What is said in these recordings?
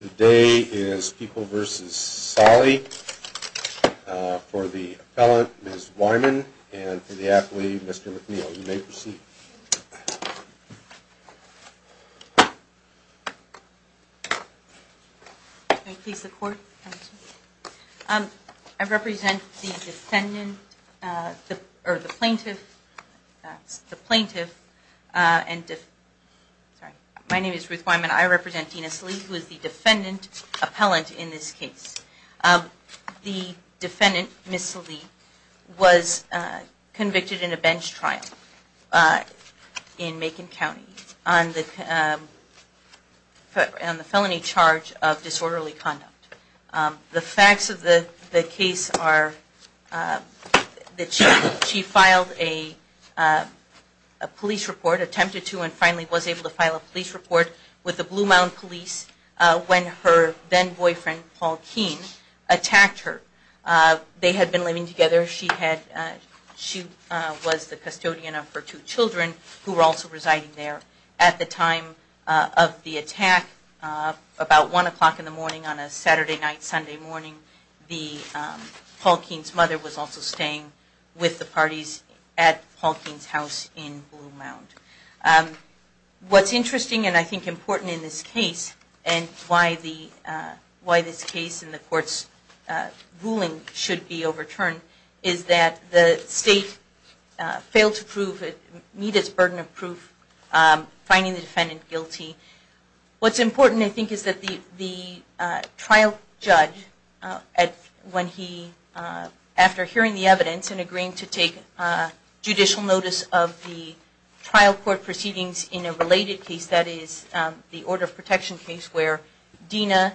Today is People v. Sallee. For the appellant, Ms. Wyman, and for the athlete, Mr. McNeil. You may proceed. May I please have the court? I represent the defendant, or the plaintiff, the plaintiff, and, sorry. My name is Ruth Wyman. I represent Tina Sallee, who is the defendant appellant in this case. The defendant, Ms. Sallee, was convicted in a bench trial in Macon County on the felony charge of disorderly conduct. The facts of the case are that she filed a police report, attempted to, and finally was able to file a police report with the Blue Mound Police when her then-boyfriend, Paul Keene, attacked her. They had been living together. She was the custodian of her two children, who were also residing there at the time of the attack, about one o'clock in the morning on a Saturday night, Sunday morning. Paul Keene's mother was also staying with the parties at Paul Keene's house in Blue Mound. What's interesting, and I think important in this case, and why this case and the court's ruling should be overturned, is that the state failed to meet its burden of proof, finding the defendant guilty. What's important, I think, is that the trial judge, after hearing the evidence and agreeing to take judicial notice of the trial court proceedings in a related case, that is, the order of protection case where Dina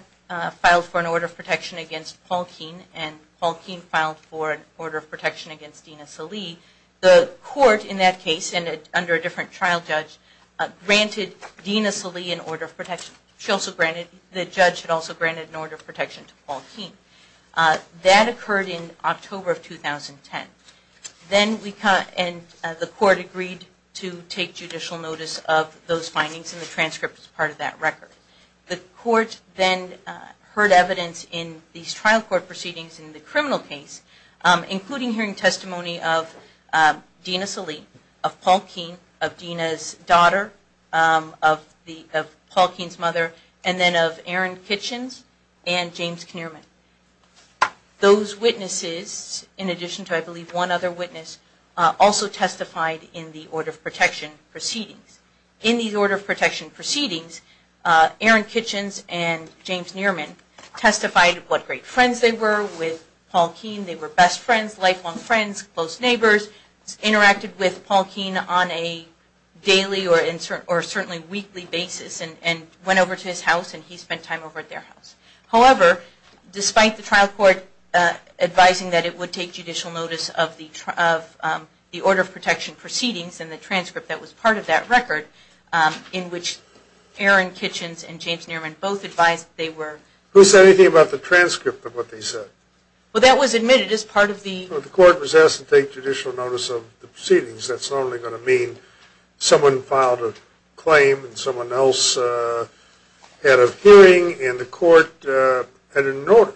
filed for an order of protection against Paul Keene and Paul Keene filed for an order of protection against Dina Sallee, the court in that case, and under a different trial judge, granted Dina Sallee an order of protection. The judge had also granted an order of protection to Paul Keene. That occurred in October of 2010. Then the court agreed to take judicial notice of those findings, and the transcript is part of that record. The court then heard evidence in these trial court proceedings in the criminal case, including hearing testimony of Dina Sallee, of Paul Keene, of Dina's daughter, of Paul Keene's mother, and then of Aaron Kitchens and James Knierman. Those witnesses, in addition to, I believe, one other witness, also testified in the order of protection proceedings. In these order of protection proceedings, Aaron Kitchens and James Knierman testified what great friends they were with Paul Keene. They were best friends, lifelong friends, close neighbors, interacted with Paul Keene on a daily or certainly weekly basis, and went over to his house and he spent time over at their house. However, despite the trial court advising that it would take judicial notice of the order of protection proceedings and the transcript that was part of that record, in which Aaron Kitchens and James Knierman both advised they were... Who said anything about the transcript of what they said? Well, that was admitted as part of the... That's only going to mean someone filed a claim and someone else had a hearing and the court had an order.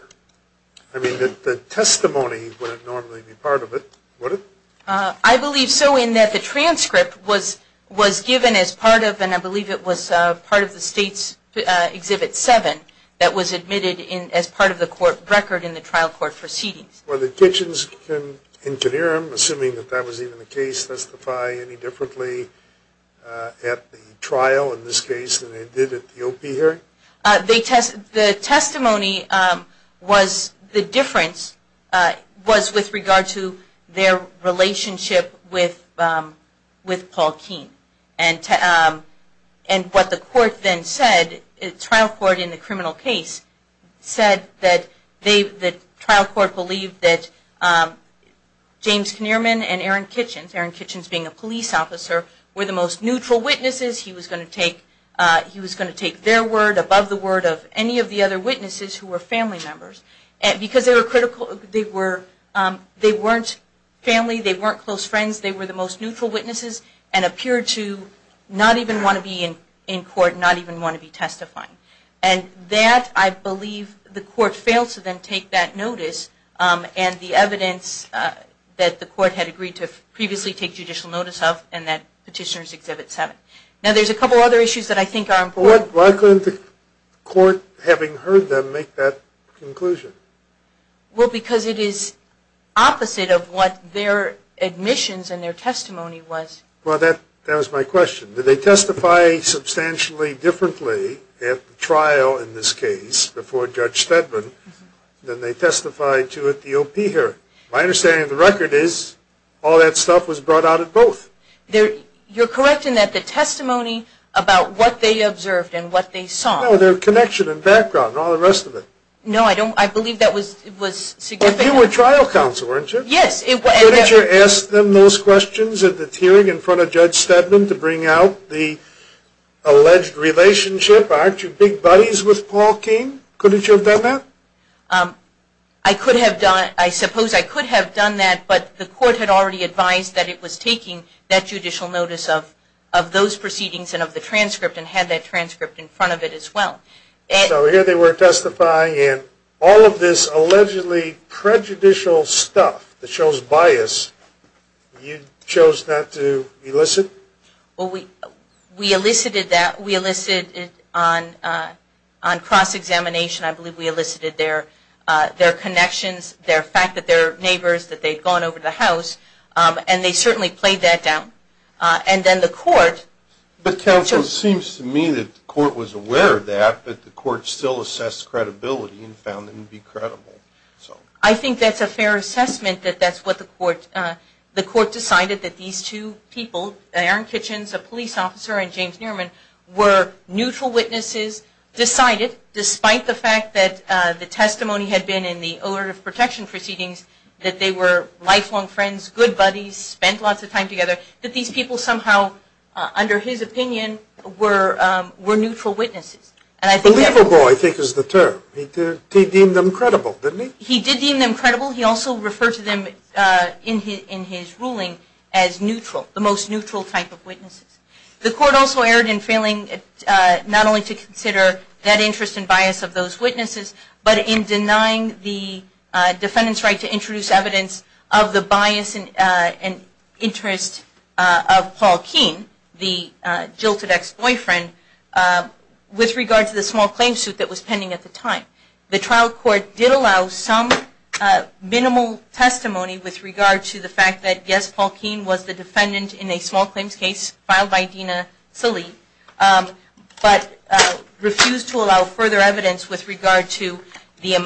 I mean, the testimony wouldn't normally be part of it, would it? I believe so, in that the transcript was given as part of, and I believe it was part of the State's Exhibit 7, that was admitted as part of the court record in the trial court proceedings. Were the Kitchens and Knierman, assuming that that was even the case, testify any differently at the trial in this case than they did at the OP hearing? The testimony was... The difference was with regard to their relationship with Paul Keene. And what the court then said, the trial court in the criminal case, said that the trial court believed that James Knierman and Aaron Kitchens, Aaron Kitchens being a police officer, were the most neutral witnesses. He was going to take their word above the word of any of the other witnesses who were family members. Because they were critical, they weren't family, they weren't close friends, they were the most neutral witnesses and appeared to not even want to be in court, not even want to be testifying. And that, I believe, the court failed to then take that notice and the evidence that the court had agreed to previously take judicial notice of, and that Petitioner's Exhibit 7. Now there's a couple other issues that I think are important... Well, because it is opposite of what their admissions and their testimony was. Well, that was my question. Did they testify substantially differently at the trial in this case before Judge Steadman than they testified to at the OP hearing? My understanding of the record is all that stuff was brought out at both. You're correct in that the testimony about what they observed and what they saw... No, their connection and background and all the rest of it. No, I don't... I believe that was significant... But you were trial counsel, weren't you? Yes, it was... Couldn't you have asked them those questions at the hearing in front of Judge Steadman to bring out the alleged relationship? Aren't you big buddies with Paul King? Couldn't you have done that? I could have done... I suppose I could have done that, but the court had already advised that it was taking that judicial notice of those proceedings and of the transcript and had that transcript in front of it as well. So here they were testifying and all of this allegedly prejudicial stuff that shows bias, you chose not to elicit? Well, we elicited that... we elicited on cross-examination, I believe we elicited their connections, their fact that they're neighbors, that they'd gone over to the house, and they certainly played that down. And then the court... But counsel, it seems to me that the court was aware of that, but the court still assessed credibility and found them to be credible, so... I think that's a fair assessment that that's what the court... the court decided that these two people, Aaron Kitchens, a police officer, and James Nierman, were neutral witnesses, decided, despite the fact that the testimony had been in the order of protection proceedings, that they were lifelong friends, good buddies, spent lots of time together, that these people somehow, under his opinion, were neutral witnesses. Believable, I think, is the term. He deemed them credible, didn't he? He did deem them credible. He also referred to them in his ruling as neutral, the most neutral type of witnesses. The court also erred in failing not only to consider that interest and bias of those witnesses, but in denying the defendant's right to introduce evidence of the bias and interest of Paul Keene, the jilted ex-boyfriend, with regard to the small claims suit that was pending at the time. The trial court did allow some minimal testimony with regard to the fact that, yes, Paul Keene was the defendant in a small claims case filed by Dina Salih, but refused to allow further evidence with regard to the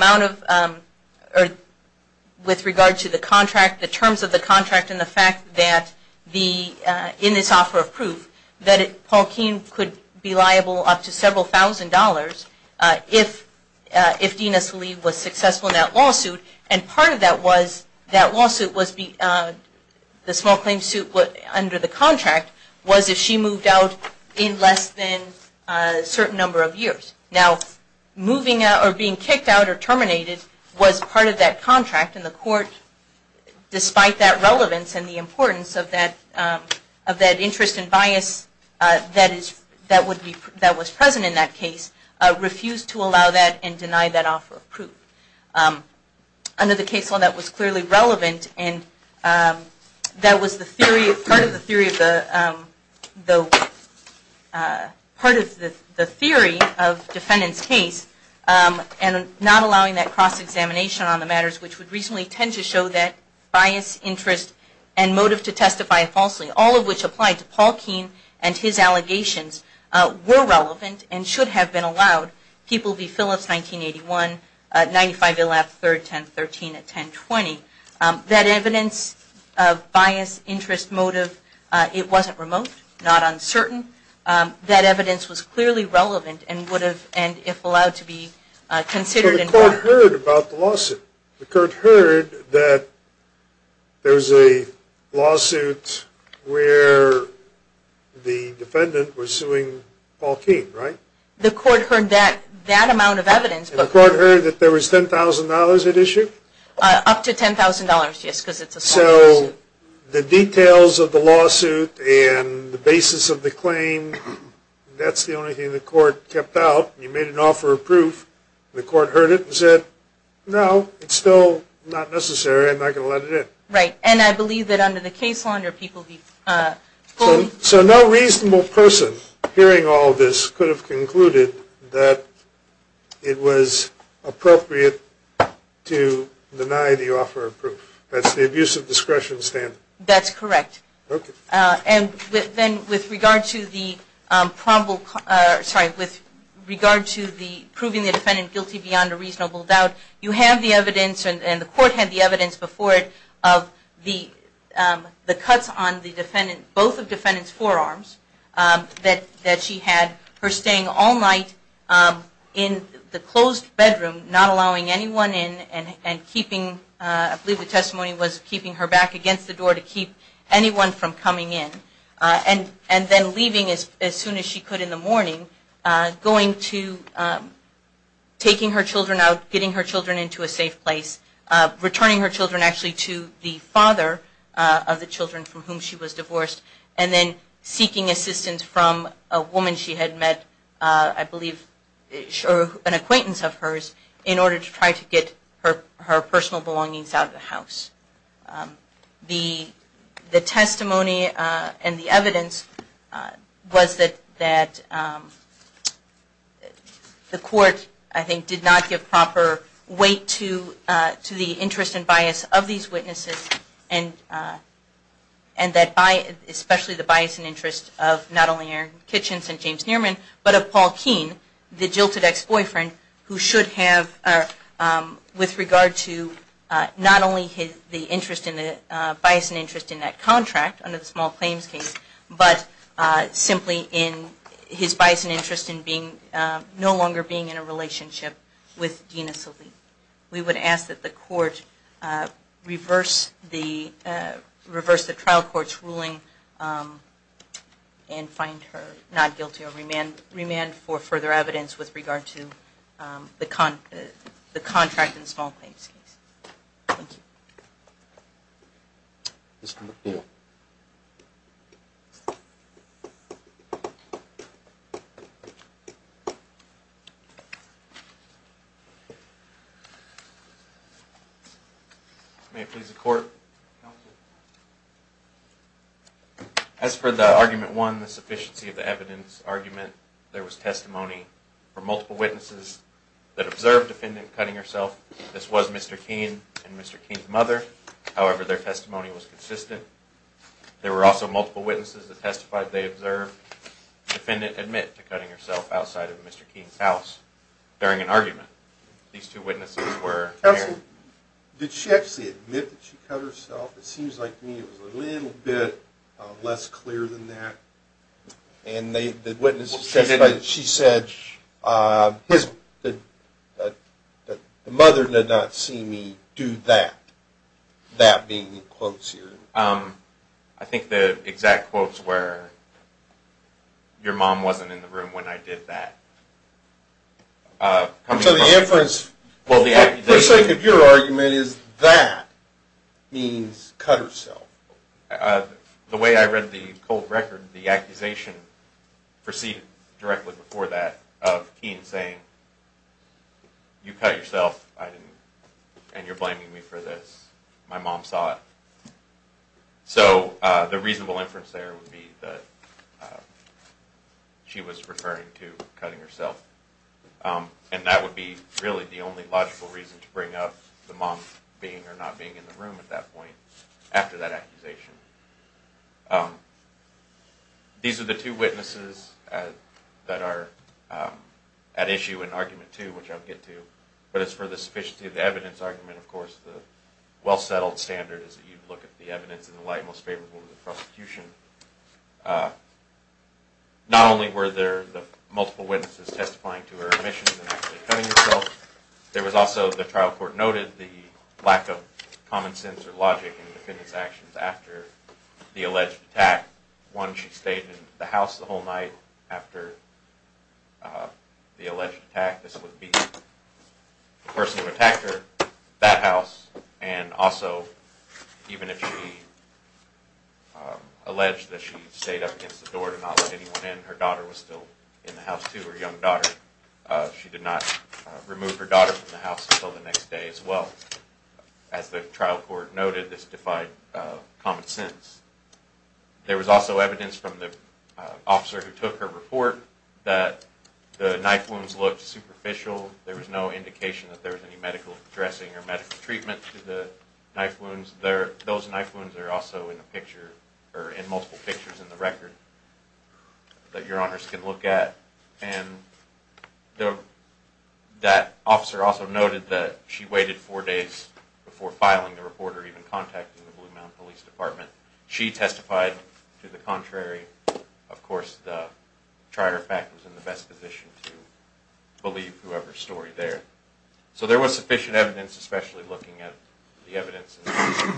contract, the terms of the contract, and the fact that, in this offer of proof, that Paul Keene could be liable up to several thousand dollars if Dina Salih was successful in that lawsuit. And part of that lawsuit, the small claims suit under the contract, was if she moved out in less than a certain number of years. Now, moving out or being kicked out or terminated was part of that contract, and the court, despite that relevance and the importance of that interest and bias that was present in that case, refused to allow that and deny that offer of proof. Under the case law, that was clearly relevant, and that was part of the theory of the defendant's case, and not allowing that cross-examination on the matters which would reasonably tend to show that bias, interest, and motive to testify falsely, all of which applied to Paul Keene and his allegations, were relevant and should have been allowed. People v. Phillips, 1981, 95, 11, 3, 10, 13, and 10, 20. That evidence of bias, interest, motive, it wasn't remote, not uncertain. That evidence was clearly relevant and would have, and if allowed to be, considered. So the court heard about the lawsuit. The court heard that there was a lawsuit where the defendant was suing Paul Keene, right? The court heard that amount of evidence. The court heard that there was $10,000 at issue? Up to $10,000, yes, because it's a small lawsuit. So the details of the lawsuit and the basis of the claim, that's the only thing the court kept out. You made an offer of proof. The court heard it and said, no, it's still not necessary. I'm not going to let it in. Right. And I believe that under the case law, under people, so no reasonable person hearing all of this could have concluded that it was appropriate to deny the offer of proof. That's the abuse of discretion standard. That's correct. And then with regard to the proving the defendant guilty beyond a reasonable doubt, you have the evidence and the court had the evidence before it of the cuts on both of the defendant's forearms that she had her staying all night in the closed bedroom, not allowing anyone in and keeping, I believe the testimony was keeping her back against the door to keep anyone from coming in. And then leaving as soon as she could in the morning, going to, taking her children out, getting her children into a safe place, returning her children actually to the father of the children from whom she was divorced, and then seeking assistance from a woman she had met, I believe an acquaintance of hers, in order to try to get her personal belongings out of the house. The testimony and the evidence was that the court, I think, did not give proper weight to the interest and bias of these witnesses, and especially the bias and interest of not only Aaron Kitchens and James Nearman, but of Paul Keene, the Jilted Ex-Boyfriend, who should have, with regard to not only the bias and interest in that contract under the small claims case, but simply in his bias and interest in no longer being in a relationship with Dina Salih. And we would ask that the court reverse the trial court's ruling and find her not guilty or remand for further evidence with regard to the contract in the small claims case. Thank you. Mr. McNeil. May it please the court. Counsel. As for the argument one, the sufficiency of the evidence argument, there was testimony from multiple witnesses that observed defendant cutting herself. This was Mr. Keene and Mr. Keene's mother. However, their testimony was consistent. There were also multiple witnesses that testified they observed defendant admit to cutting herself outside of Mr. Keene's house during an argument. Counsel, did she actually admit that she cut herself? It seems like to me it was a little bit less clear than that. And the witnesses testified that she said, the mother did not see me do that. That being the quotes here. I think the exact quotes were, your mom wasn't in the room when I did that. So the inference, for the sake of your argument, is that means cut herself. The way I read the cold record, the accusation proceeded directly before that of Keene saying, you cut yourself and you're blaming me for this. My mom saw it. So the reasonable inference there would be that she was referring to cutting herself. And that would be really the only logical reason to bring up the mom being or not being in the room at that point after that accusation. These are the two witnesses that are at issue in argument two, which I'll get to. But as for the sufficiency of the evidence argument, of course, the well settled standard is that you look at the evidence in the light most favorable to the prosecution. Not only were there the multiple witnesses testifying to her omissions and actually cutting herself, there was also, the trial court noted, the lack of common sense or logic in the defendant's actions after the alleged attack. One, she stayed in the house the whole night after the alleged attack. This would be the person who attacked her, that house, and also even if she alleged that she stayed up against the door to not let anyone in, her daughter was still in the house too, her young daughter. She did not remove her daughter from the house until the next day as well. As the trial court noted, this defied common sense. There was also evidence from the officer who took her report that the knife wounds looked superficial. There was no indication that there was any medical dressing or medical treatment to the knife wounds. Those knife wounds are also in multiple pictures in the record that your honors can look at. That officer also noted that she waited four days before filing the report or even contacting the Blue Mound Police Department. She testified to the contrary. Of course, the Charter of Fact was in the best position to believe whoever's story there. So there was sufficient evidence, especially looking at the evidence in the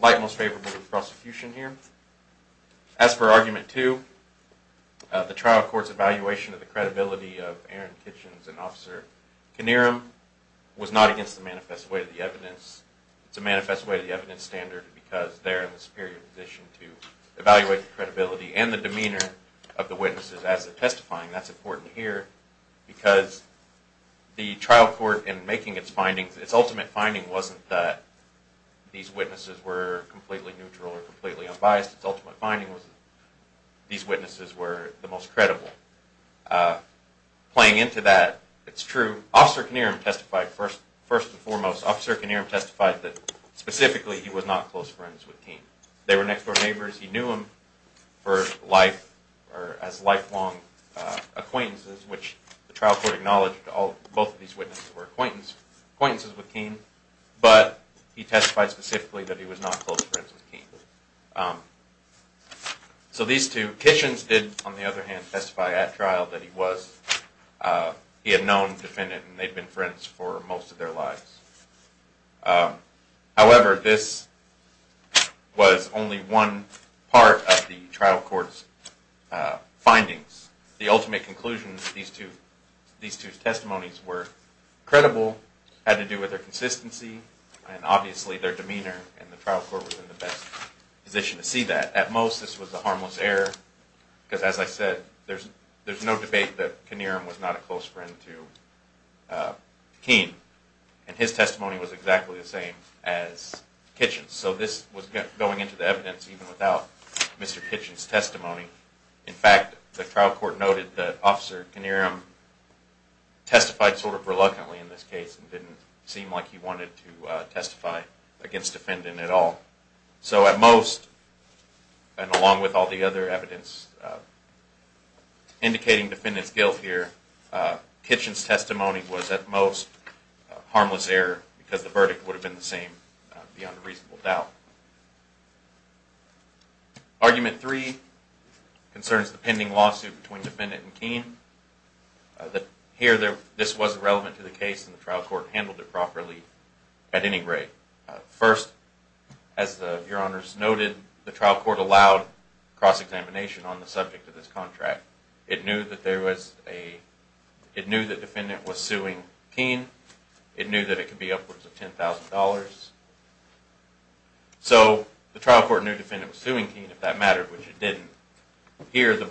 light most favorable to the prosecution here. As for Argument 2, the trial court's evaluation of the credibility of Aaron Kitchens and Officer Knierim was not against the manifest way of the evidence. It's a manifest way of the evidence standard because they're in the superior position to evaluate the credibility and the demeanor of the witnesses as they're testifying. That's important here because the trial court in making its findings, wasn't that these witnesses were completely neutral or completely unbiased. Its ultimate finding was that these witnesses were the most credible. Playing into that, it's true. Officer Knierim testified first and foremost, Officer Knierim testified that specifically he was not close friends with Keane. They were next door neighbors. He knew him for life or as lifelong acquaintances, which the trial court acknowledged both of these witnesses were acquaintances with Keane, but he testified specifically that he was not close friends with Keane. So these two, Kitchens did, on the other hand, testify at trial that he was, he had known the defendant and they'd been friends for most of their lives. However, this was only one part of the trial court's findings. The ultimate conclusion, these two testimonies were credible, had to do with their consistency and obviously their demeanor and the trial court was in the best position to see that. At most, this was a harmless error because as I said, there's no debate that Knierim was not a close friend to Keane and his testimony was exactly the same as Kitchens. So this was going into the evidence even without Mr. Kitchens' testimony. In fact, the trial court noted that Officer Knierim testified sort of reluctantly in this case and didn't seem like he wanted to testify against defendant at all. So at most, and along with all the other evidence indicating defendant's guilt here, Kitchens' testimony was at most a harmless error because the verdict would have been the same beyond a reasonable doubt. Argument three concerns the pending lawsuit between defendant and Keane. Here, this was relevant to the case and the trial court handled it properly at any rate. First, as Your Honors noted, the trial court allowed cross-examination on the subject of this contract. It knew that defendant was suing Keane. It knew that it could be upwards of $10,000. So the trial court knew defendant was suing Keane, if that mattered, which it didn't. Here,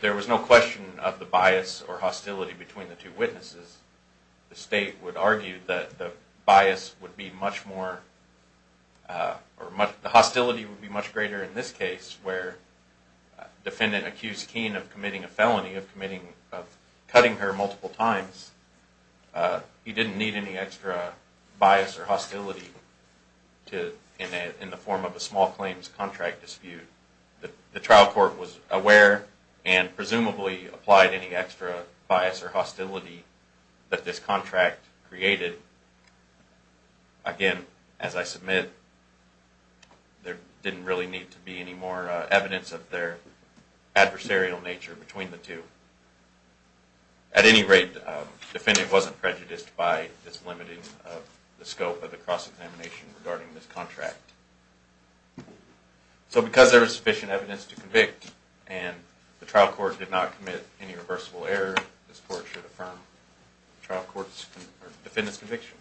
there was no question of the bias or hostility between the two witnesses. The state would argue that the bias would be much more, or the hostility would be much greater in this case where defendant accused Keane of committing a felony, of committing, of cutting her multiple times. He didn't need any extra bias or hostility in the form of a small claims contract dispute. The trial court was aware and presumably applied any extra bias or hostility that this contract created. Again, as I submit, there didn't really need to be any more evidence of their adversarial nature between the two. At any rate, defendant wasn't prejudiced by this limiting of the scope of the cross-examination regarding this contract. So because there was sufficient evidence to convict and the trial court did not commit any reversible error, this court should affirm defendant's conviction.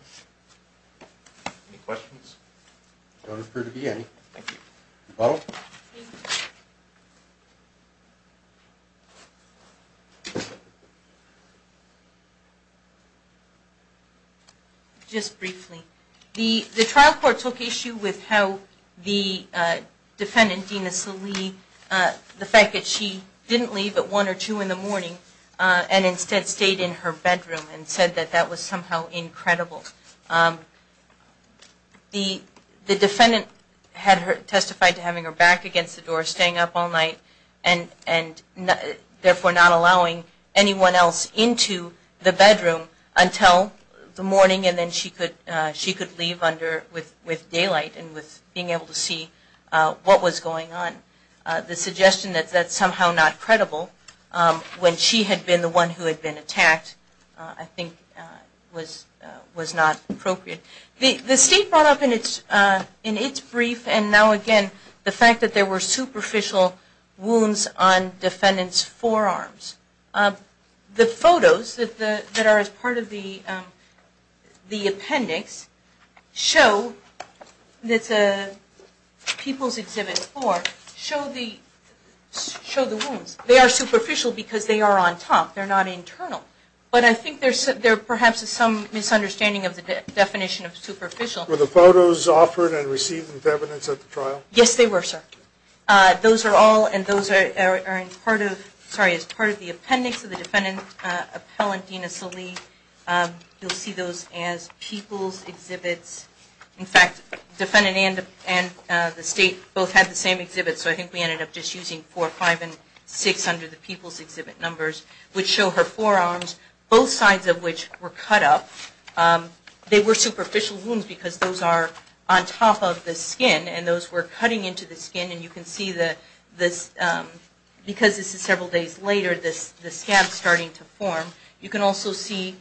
Any questions? I don't approve the hearing. Thank you. Just briefly. The trial court took issue with how the defendant, Dina Salee, the fact that she didn't leave at 1 or 2 in the morning and instead stayed in her bedroom and said that that was somehow incredible. The defendant had testified to having her back against the door, staying up all night and therefore not allowing anyone else into the bedroom until the morning and then she could leave with daylight and with being able to see what was going on. The suggestion that that's somehow not credible, when she had been the one who had been attacked, I think was not appropriate. The state brought up in its brief, and now again, the fact that there were superficial wounds on defendant's forearms. The photos that are as part of the appendix show, that's People's Exhibit 4, show the wounds. They are superficial because they are on top, they're not internal. But I think there's perhaps some misunderstanding of the definition of superficial. Were the photos offered and received with evidence at the trial? Yes, they were, sir. Those are all, and those are as part of the appendix of the defendant's appellant, Dina Salee. You'll see those as People's Exhibits. In fact, defendant and the state both had the same exhibit, so I think we ended up just using 4, 5, and 6 under the People's Exhibit numbers, which show her forearms, both sides of which were cut up. They were superficial wounds because those are on top of the skin and those were cutting into the skin and you can see, because this is several days later, the scabs starting to form. You can also see,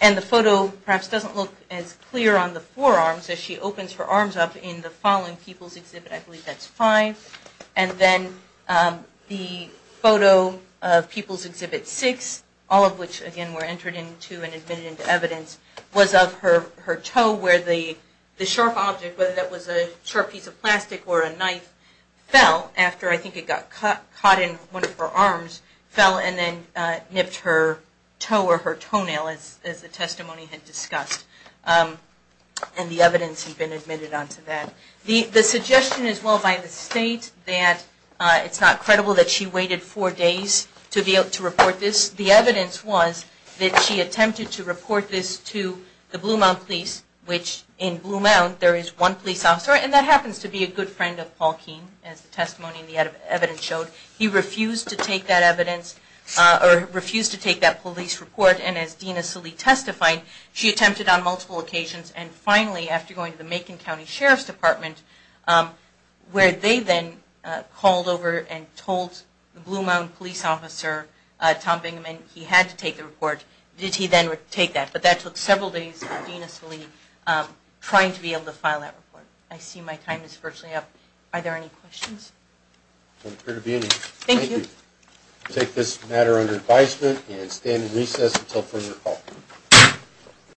and the photo perhaps doesn't look as clear on the forearms as she opens her arms up in the following People's Exhibit, I believe that's 5, and then the photo of People's Exhibit 6, all of which again were entered into and admitted into evidence, was of her toe where the sharp object, whether that was a sharp piece of plastic or a knife, fell after I think it got caught in one of her arms, fell and then nipped her toe or her toenail as the testimony had discussed. And the evidence had been admitted onto that. The suggestion as well by the state that it's not credible that she waited four days to report this. The evidence was that she attempted to report this to the Blue Mount Police, which in Blue Mount there is one police officer, and that happens to be a good friend of Paul Keene, as the testimony and the evidence showed. He refused to take that evidence, or refused to take that police report, and as Dina Salee testified, she attempted on multiple occasions. And finally, after going to the Macon County Sheriff's Department, where they then called over and told Blue Mount Police Officer Tom Bingaman he had to take the report, did he then take that? But that took several days of Dina Salee trying to be able to file that report. I see my time is virtually up. Are there any questions? I don't appear to be any. Thank you. We'll take this matter under advisement and stand in recess until further call.